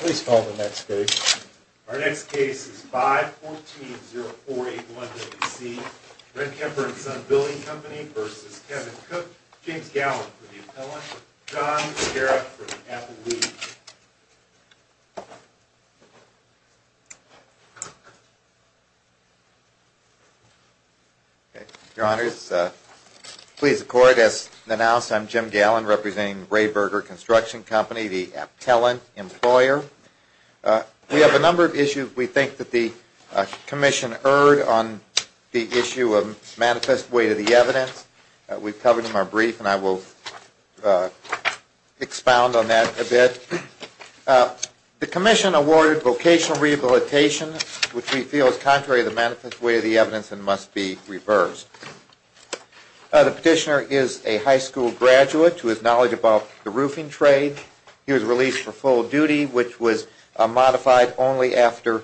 Please call the next case. Our next case is 514-0481-WC. Rehkemper & Son Building Comp'n v. Kevin Cook. James Gallin for the appellant. John Scarra for the appellee. Your Honors, please accord. As announced, I'm Jim Gallin, representing Rayberger Construction Comp'n, the appellant employer. We have a number of issues we think that the Commission erred on the issue of manifest weight of the evidence. We've covered them in our brief, and I will expound on that a bit. The Commission awarded vocational rehabilitation, which we feel is contrary to the manifest weight of the evidence and must be reversed. The petitioner is a high school graduate to his knowledge about the roofing trade. He was released for full duty, which was modified only after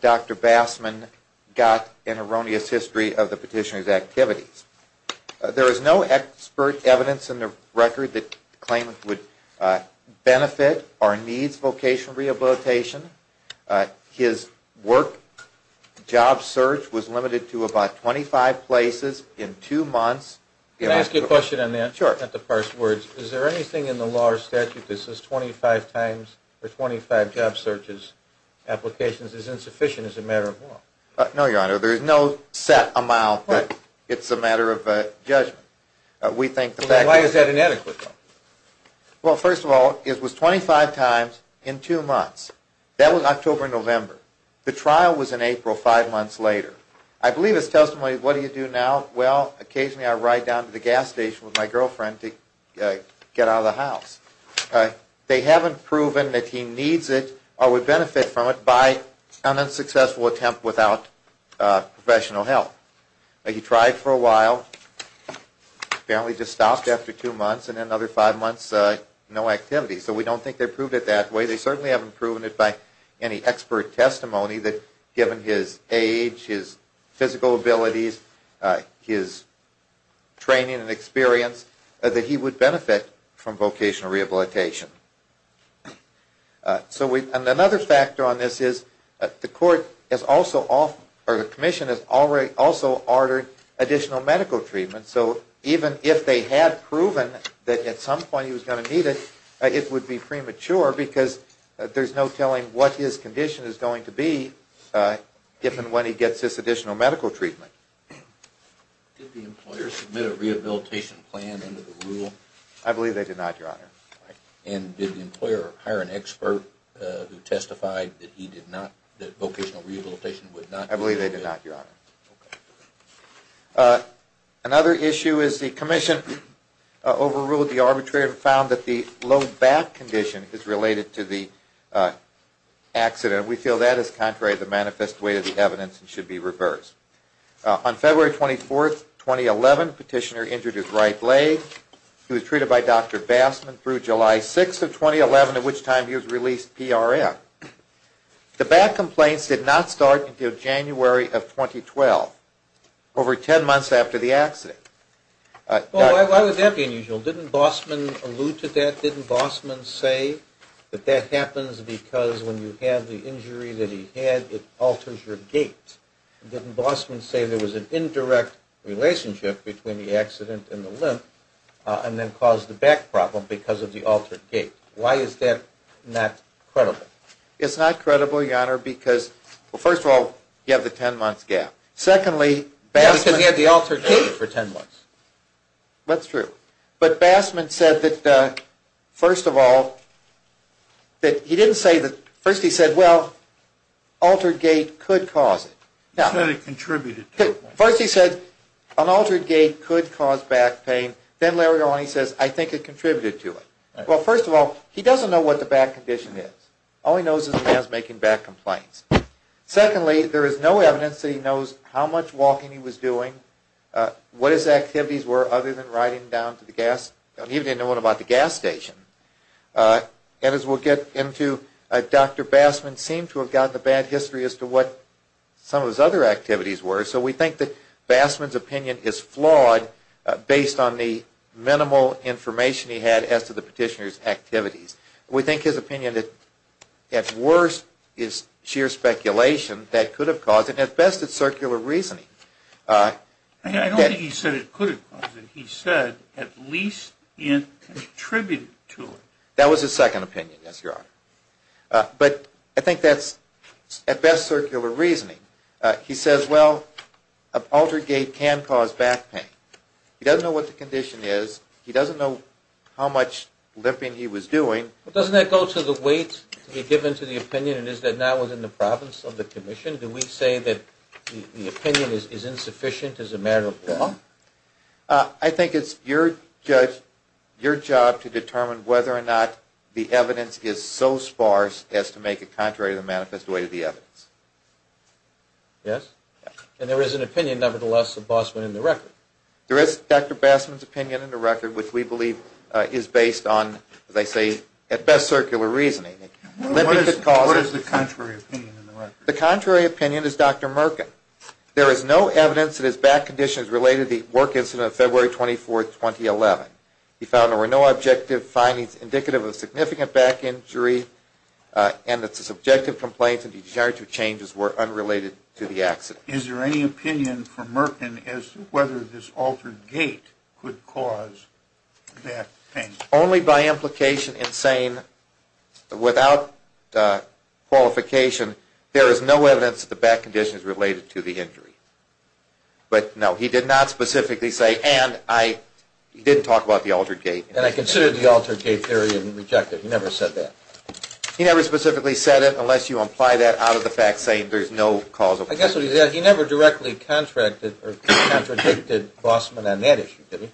Dr. Bassman got an erroneous history of the petitioner's activities. There is no expert evidence in the record that the claimant would benefit or needs vocational rehabilitation. His work job search was limited to about 25 places in two months. Can I ask you a question on that? Sure. I don't have to parse words. Is there anything in the law or statute that says 25 times or 25 job searches applications is insufficient as a matter of law? No, Your Honor. There is no set amount that it's a matter of judgment. Why is that inadequate? Well, first of all, it was 25 times in two months. That was October and November. The trial was in April, five months later. I believe his testimony, what do you do now? Well, occasionally I ride down to the gas station with my girlfriend to get out of the house. They haven't proven that he needs it or would benefit from it by an unsuccessful attempt without professional help. He tried for a while. Apparently just stopped after two months and then another five months, no activity. So we don't think they proved it that way. They certainly haven't proven it by any expert testimony that given his age, his physical abilities, his training and experience, that he would benefit from vocational rehabilitation. So another factor on this is the commission has also ordered additional medical treatment. So even if they had proven that at some point he was going to need it, it would be premature because there's no telling what his condition is going to be given when he gets this additional medical treatment. Did the employer submit a rehabilitation plan under the rule? I believe they did not, Your Honor. And did the employer hire an expert who testified that he did not, that vocational rehabilitation would not? I believe they did not, Your Honor. Another issue is the commission overruled the arbitrator and found that the low back condition is related to the accident. We feel that is contrary to the manifest way of the evidence and should be reversed. On February 24, 2011, the petitioner injured his right leg. He was treated by Dr. Bassman through July 6 of 2011, at which time he was released PRF. The back complaints did not start until January of 2012, over 10 months after the accident. Why would that be unusual? Didn't Bassman allude to that? Didn't Bassman say that that happens because when you have the injury that he had, it alters your gait? Didn't Bassman say there was an indirect relationship between the accident and the limp and then caused the back problem because of the altered gait? Why is that not credible? It's not credible, Your Honor, because, well, first of all, you have the 10-month gap. Secondly, Bassman... Because he had the altered gait for 10 months. That's true. But Bassman said that, first of all, that he didn't say that... He said it contributed to it. First he said an altered gait could cause back pain. Then later on he says, I think it contributed to it. Well, first of all, he doesn't know what the back condition is. All he knows is the man is making back complaints. Secondly, there is no evidence that he knows how much walking he was doing, what his activities were other than riding down to the gas station. He didn't even know anything about the gas station. And as we'll get into, Dr. Bassman seemed to have gotten a bad history as to what some of his other activities were. So we think that Bassman's opinion is flawed based on the minimal information he had as to the petitioner's activities. We think his opinion, at worst, is sheer speculation. That could have caused it. At best, it's circular reasoning. I don't think he said it could have caused it. He said at least it contributed to it. That was his second opinion, yes, Your Honor. But I think that's, at best, circular reasoning. He says, well, a paltry gait can cause back pain. He doesn't know what the condition is. He doesn't know how much limping he was doing. But doesn't that go to the weight to be given to the opinion, and is that not within the province of the commission? Do we say that the opinion is insufficient as a matter of law? I think it's your job to determine whether or not the evidence is so sparse as to make it contrary to the manifest way to the evidence. Yes? And there is an opinion, nevertheless, of Bassman in the record. There is Dr. Bassman's opinion in the record, which we believe is based on, as I say, at best, circular reasoning. What is the contrary opinion in the record? The contrary opinion is Dr. Merkin. There is no evidence that his back condition is related to the work incident of February 24, 2011. We found there were no objective findings indicative of a significant back injury and that the subjective complaints and the degenerative changes were unrelated to the accident. Is there any opinion from Merkin as to whether this altered gait could cause back pain? Only by implication in saying, without qualification, there is no evidence that the back condition is related to the injury. But, no, he did not specifically say, and he didn't talk about the altered gait. And I considered the altered gait theory and rejected it. He never said that. He never specifically said it unless you apply that out of the fact, saying there's no cause of it. I guess what he said, he never directly contradicted Bassman on that issue, did he?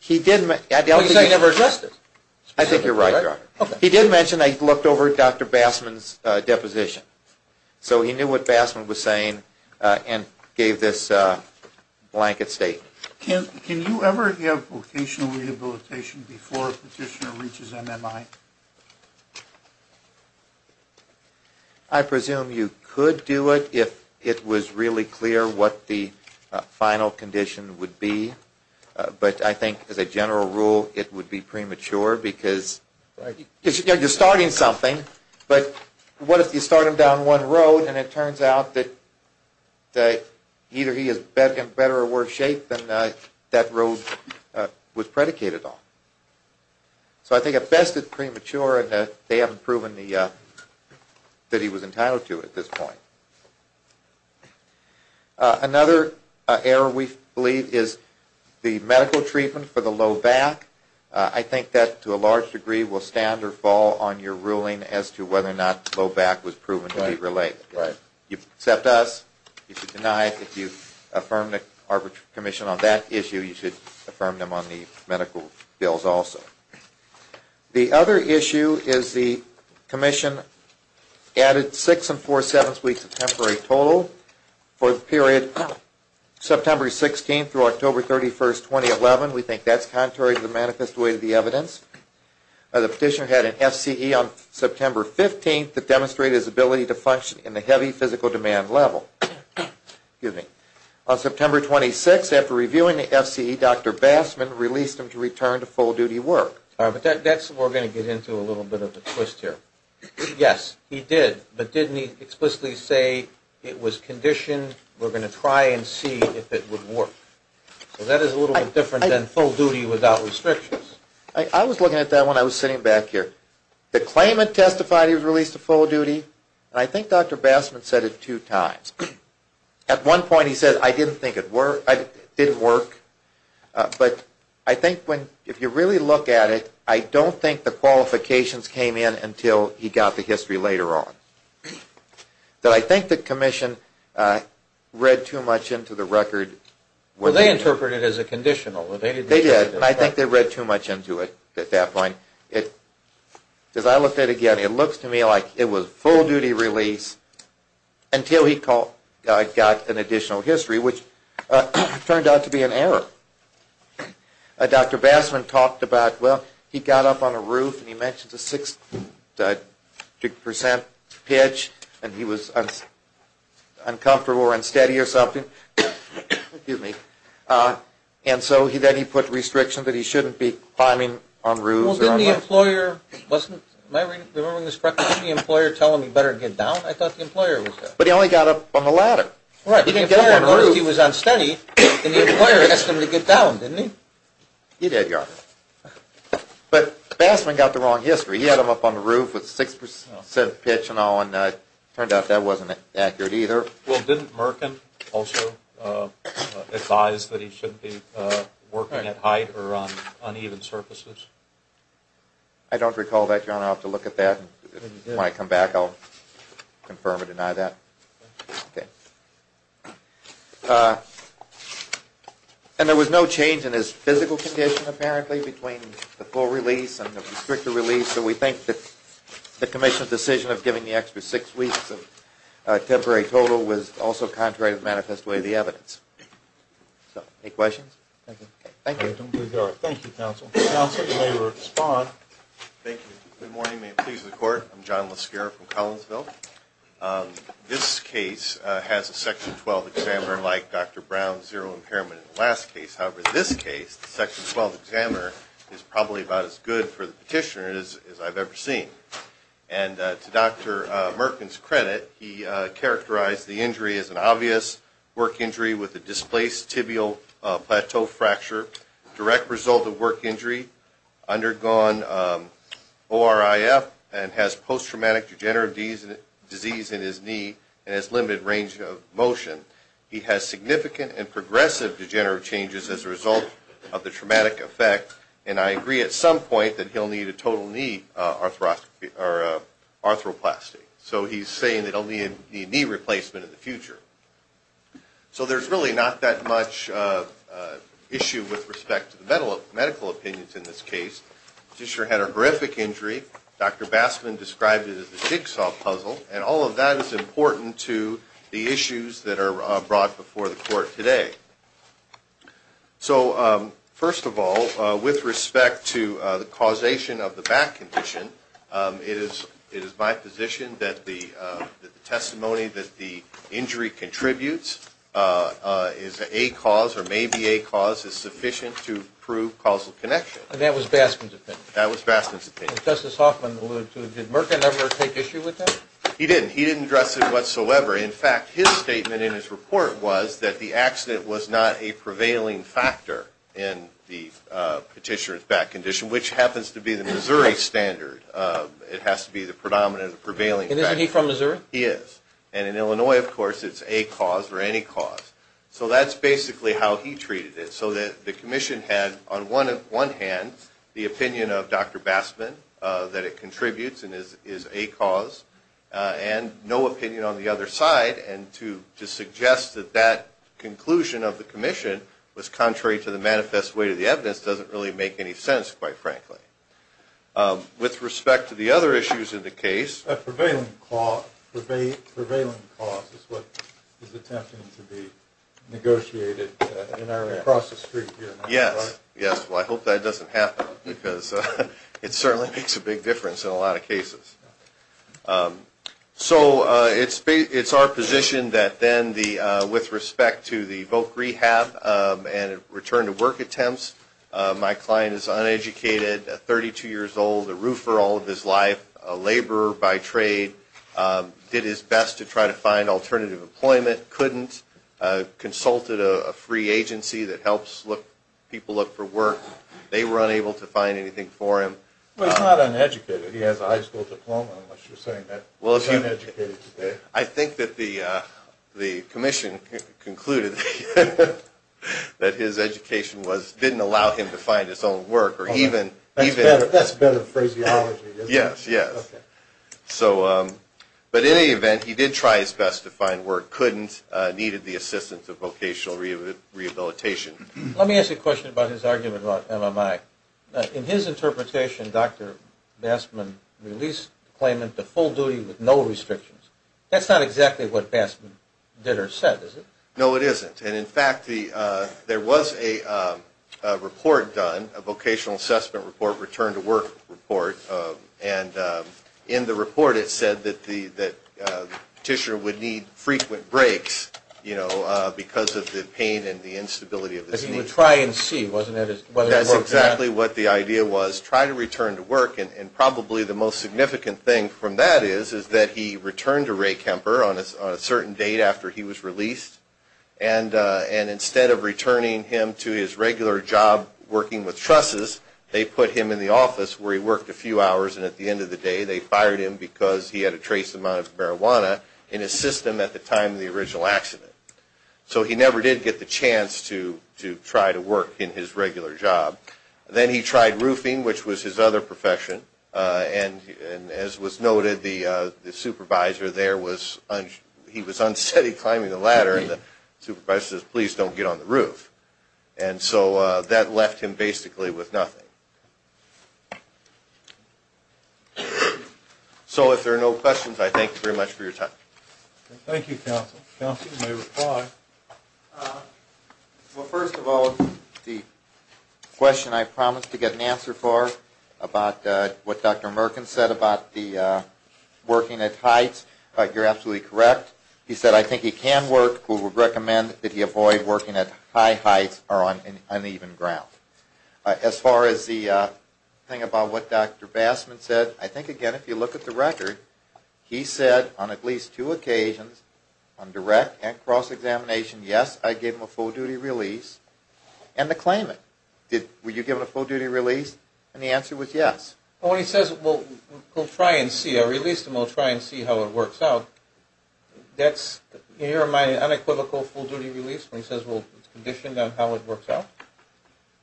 He said he never addressed it. I think you're right, Robert. He did mention that he looked over Dr. Bassman's deposition. So he knew what Bassman was saying and gave this blanket statement. Can you ever give vocational rehabilitation before a petitioner reaches MMI? I presume you could do it if it was really clear what the final condition would be. But I think, as a general rule, it would be premature because you're starting something. But what if you start him down one road, and it turns out that either he is in better or worse shape than that road was predicated on? So I think at best it's premature, and they haven't proven that he was entitled to it at this point. Another error we believe is the medical treatment for the low back. I think that, to a large degree, will stand or fall on your ruling as to whether or not low back was proven to be related. If you accept us, you should deny it. If you affirm the arbitration commission on that issue, you should affirm them on the medical bills also. The other issue is the commission added six and four-sevenths weeks of temporary total for the period September 16th through October 31st, 2011. We think that's contrary to the manifest way of the evidence. The petitioner had an FCE on September 15th that demonstrated his ability to function in the heavy physical demand level. On September 26th, after reviewing the FCE, Dr. Bassman released him to return to full-duty work. All right, but that's where we're going to get into a little bit of a twist here. Yes, he did, but didn't he explicitly say, it was conditioned, we're going to try and see if it would work? So that is a little bit different than full duty without restrictions. I was looking at that when I was sitting back here. The claimant testified he was released to full duty, and I think Dr. Bassman said it two times. At one point he said, I didn't think it didn't work, but I think if you really look at it, I don't think the qualifications came in until he got the history later on. But I think the commission read too much into the record. Well, they interpreted it as a conditional. They did, and I think they read too much into it at that point. As I looked at it again, it looks to me like it was full-duty release until he got an additional history, which turned out to be an error. Dr. Bassman talked about, well, he got up on a roof, and he mentioned a six percent pitch, and he was uncomfortable or unsteady or something. Excuse me. And so then he put restrictions that he shouldn't be climbing on roofs. Well, didn't the employer tell him he better get down? I thought the employer was there. But he only got up on the ladder. Right. If he was unsteady, then the employer asked him to get down, didn't he? He did, Your Honor. But Bassman got the wrong history. He had him up on the roof with a six percent pitch and all, and it turned out that wasn't accurate either. Well, didn't Merkin also advise that he shouldn't be working at height or on uneven surfaces? I don't recall that, Your Honor. I'll have to look at that. When I come back, I'll confirm or deny that. Okay. And there was no change in his physical condition, apparently, between the full release and the restricted release, so we think that the commission's decision of giving the extra six weeks of temporary total was also contrary to the manifest way of the evidence. So, any questions? Thank you. Thank you. Thank you, counsel. Counsel, you may respond. Thank you. Good morning. May it please the Court. I'm John Lescara from Collinsville. This case has a Section 12 examiner like Dr. Brown's zero impairment in the last case. However, this case, the Section 12 examiner is probably about as good for the petitioner as I've ever seen. And to Dr. Merkin's credit, he characterized the injury as an obvious work injury with a displaced tibial plateau fracture, direct result of work injury, undergone ORIF, and has post-traumatic degenerative disease in his knee and has limited range of motion. He has significant and progressive degenerative changes as a result of the traumatic effect, and I agree at some point that he'll need a total knee arthroplasty. So he's saying that he'll need a knee replacement in the future. So there's really not that much issue with respect to the medical opinions in this case. Petitioner had a horrific injury. Dr. Bassman described it as a jigsaw puzzle, and all of that is important to the issues that are brought before the court today. So first of all, with respect to the causation of the back condition, it is my position that the testimony that the injury contributes is a cause or may be a cause is sufficient to prove causal connection. And that was Bassman's opinion? That was Bassman's opinion. Justice Hoffman alluded to it. Did Murka never take issue with that? He didn't. He didn't address it whatsoever. In fact, his statement in his report was that the accident was not a prevailing factor in the petitioner's back condition, which happens to be the Missouri standard. It has to be the predominant or prevailing factor. And isn't he from Missouri? He is. And in Illinois, of course, it's a cause or any cause. So that's basically how he treated it, so that the commission had on one hand the opinion of Dr. Bassman that it contributes and is a cause and no opinion on the other side, and to suggest that that conclusion of the commission was contrary to the manifest weight of the evidence doesn't really make any sense, quite frankly. With respect to the other issues in the case. Prevailing cause is what is attempting to be negotiated across the street here. Yes. Yes. Well, I hope that doesn't happen because it certainly makes a big difference in a lot of cases. So it's our position that then with respect to the voc rehab and return to work attempts, my client is uneducated, 32 years old, a roofer all of his life, a laborer by trade, did his best to try to find alternative employment, couldn't, consulted a free agency that helps people look for work. They were unable to find anything for him. Well, he's not uneducated. He has a high school diploma, unless you're saying that he's uneducated. I think that the commission concluded that his education didn't allow him to find his own work. That's better phraseology, isn't it? Yes, yes. Okay. But in any event, he did try his best to find work, couldn't, needed the assistance of vocational rehabilitation. Let me ask a question about his argument about MMI. In his interpretation, Dr. Bassman released the claimant to full duty with no restrictions. That's not exactly what Bassman did or said, is it? No, it isn't. And, in fact, there was a report done, a vocational assessment report, return to work report, and in the report it said that the petitioner would need frequent breaks, you know, because of the pain and the instability of his knee. Because he would try and see, wasn't it? That's exactly what the idea was, try to return to work, and probably the most significant thing from that is that he returned to Ray Kemper on a certain date after he was released, and instead of returning him to his regular job working with trusses, they put him in the office where he worked a few hours, and at the end of the day they fired him because he had a trace amount of marijuana in his system at the time of the original accident. So he never did get the chance to try to work in his regular job. Then he tried roofing, which was his other profession, and as was noted, the supervisor there was, he was unsteady climbing the ladder, and the supervisor says, please don't get on the roof. And so that left him basically with nothing. So if there are no questions, I thank you very much for your time. Thank you, counsel. Counsel, you may reply. Well, first of all, the question I promised to get an answer for about what Dr. Merkin said about the working at heights, you're absolutely correct. He said, I think he can work, but we recommend that he avoid working at high heights or on uneven ground. As far as the thing about what Dr. Bassman said, I think, again, if you look at the record, he said on at least two occasions, on direct and cross-examination, yes, I gave him a full-duty release. And the claimant, were you given a full-duty release? And the answer was yes. Well, when he says, well, we'll try and see, I released him, we'll try and see how it works out, that's, in your mind, an unequivocal full-duty release when he says, well, it's conditioned on how it works out?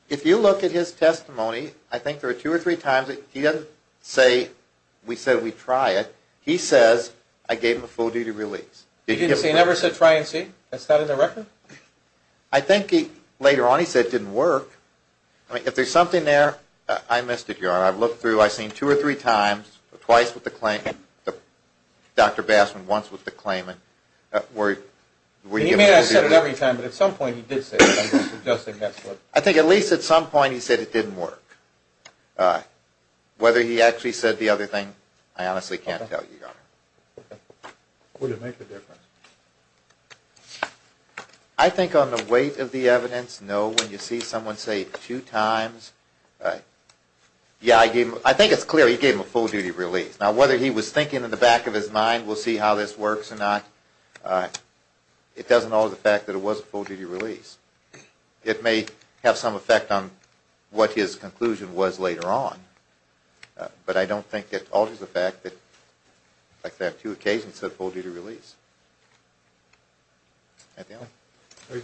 If you look at his testimony, I think there are two or three times that he doesn't say, we said we'd try it. He says, I gave him a full-duty release. He never said try and see? That's not in the record? I think later on he said it didn't work. If there's something there, I missed it, Your Honor. I've looked through, I've seen two or three times, twice with the claimant, Dr. Bassman once with the claimant. He may have said it every time, but at some point he did say it. I think at least at some point he said it didn't work. Whether he actually said the other thing, I honestly can't tell you, Your Honor. Would it make a difference? I think on the weight of the evidence, no. When you see someone say two times, yeah, I think it's clear he gave him a full-duty release. Now, whether he was thinking in the back of his mind, we'll see how this works or not, it doesn't alter the fact that it was a full-duty release. It may have some effect on what his conclusion was later on, but I don't think it alters the fact that, like I said, on two occasions, it's a full-duty release. Anything else?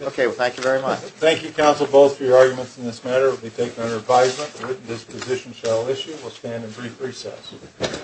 Okay, well, thank you very much. Thank you, counsel, both for your arguments in this matter. It will be taken under advisement. The written disposition shall issue. We'll stand in brief recess.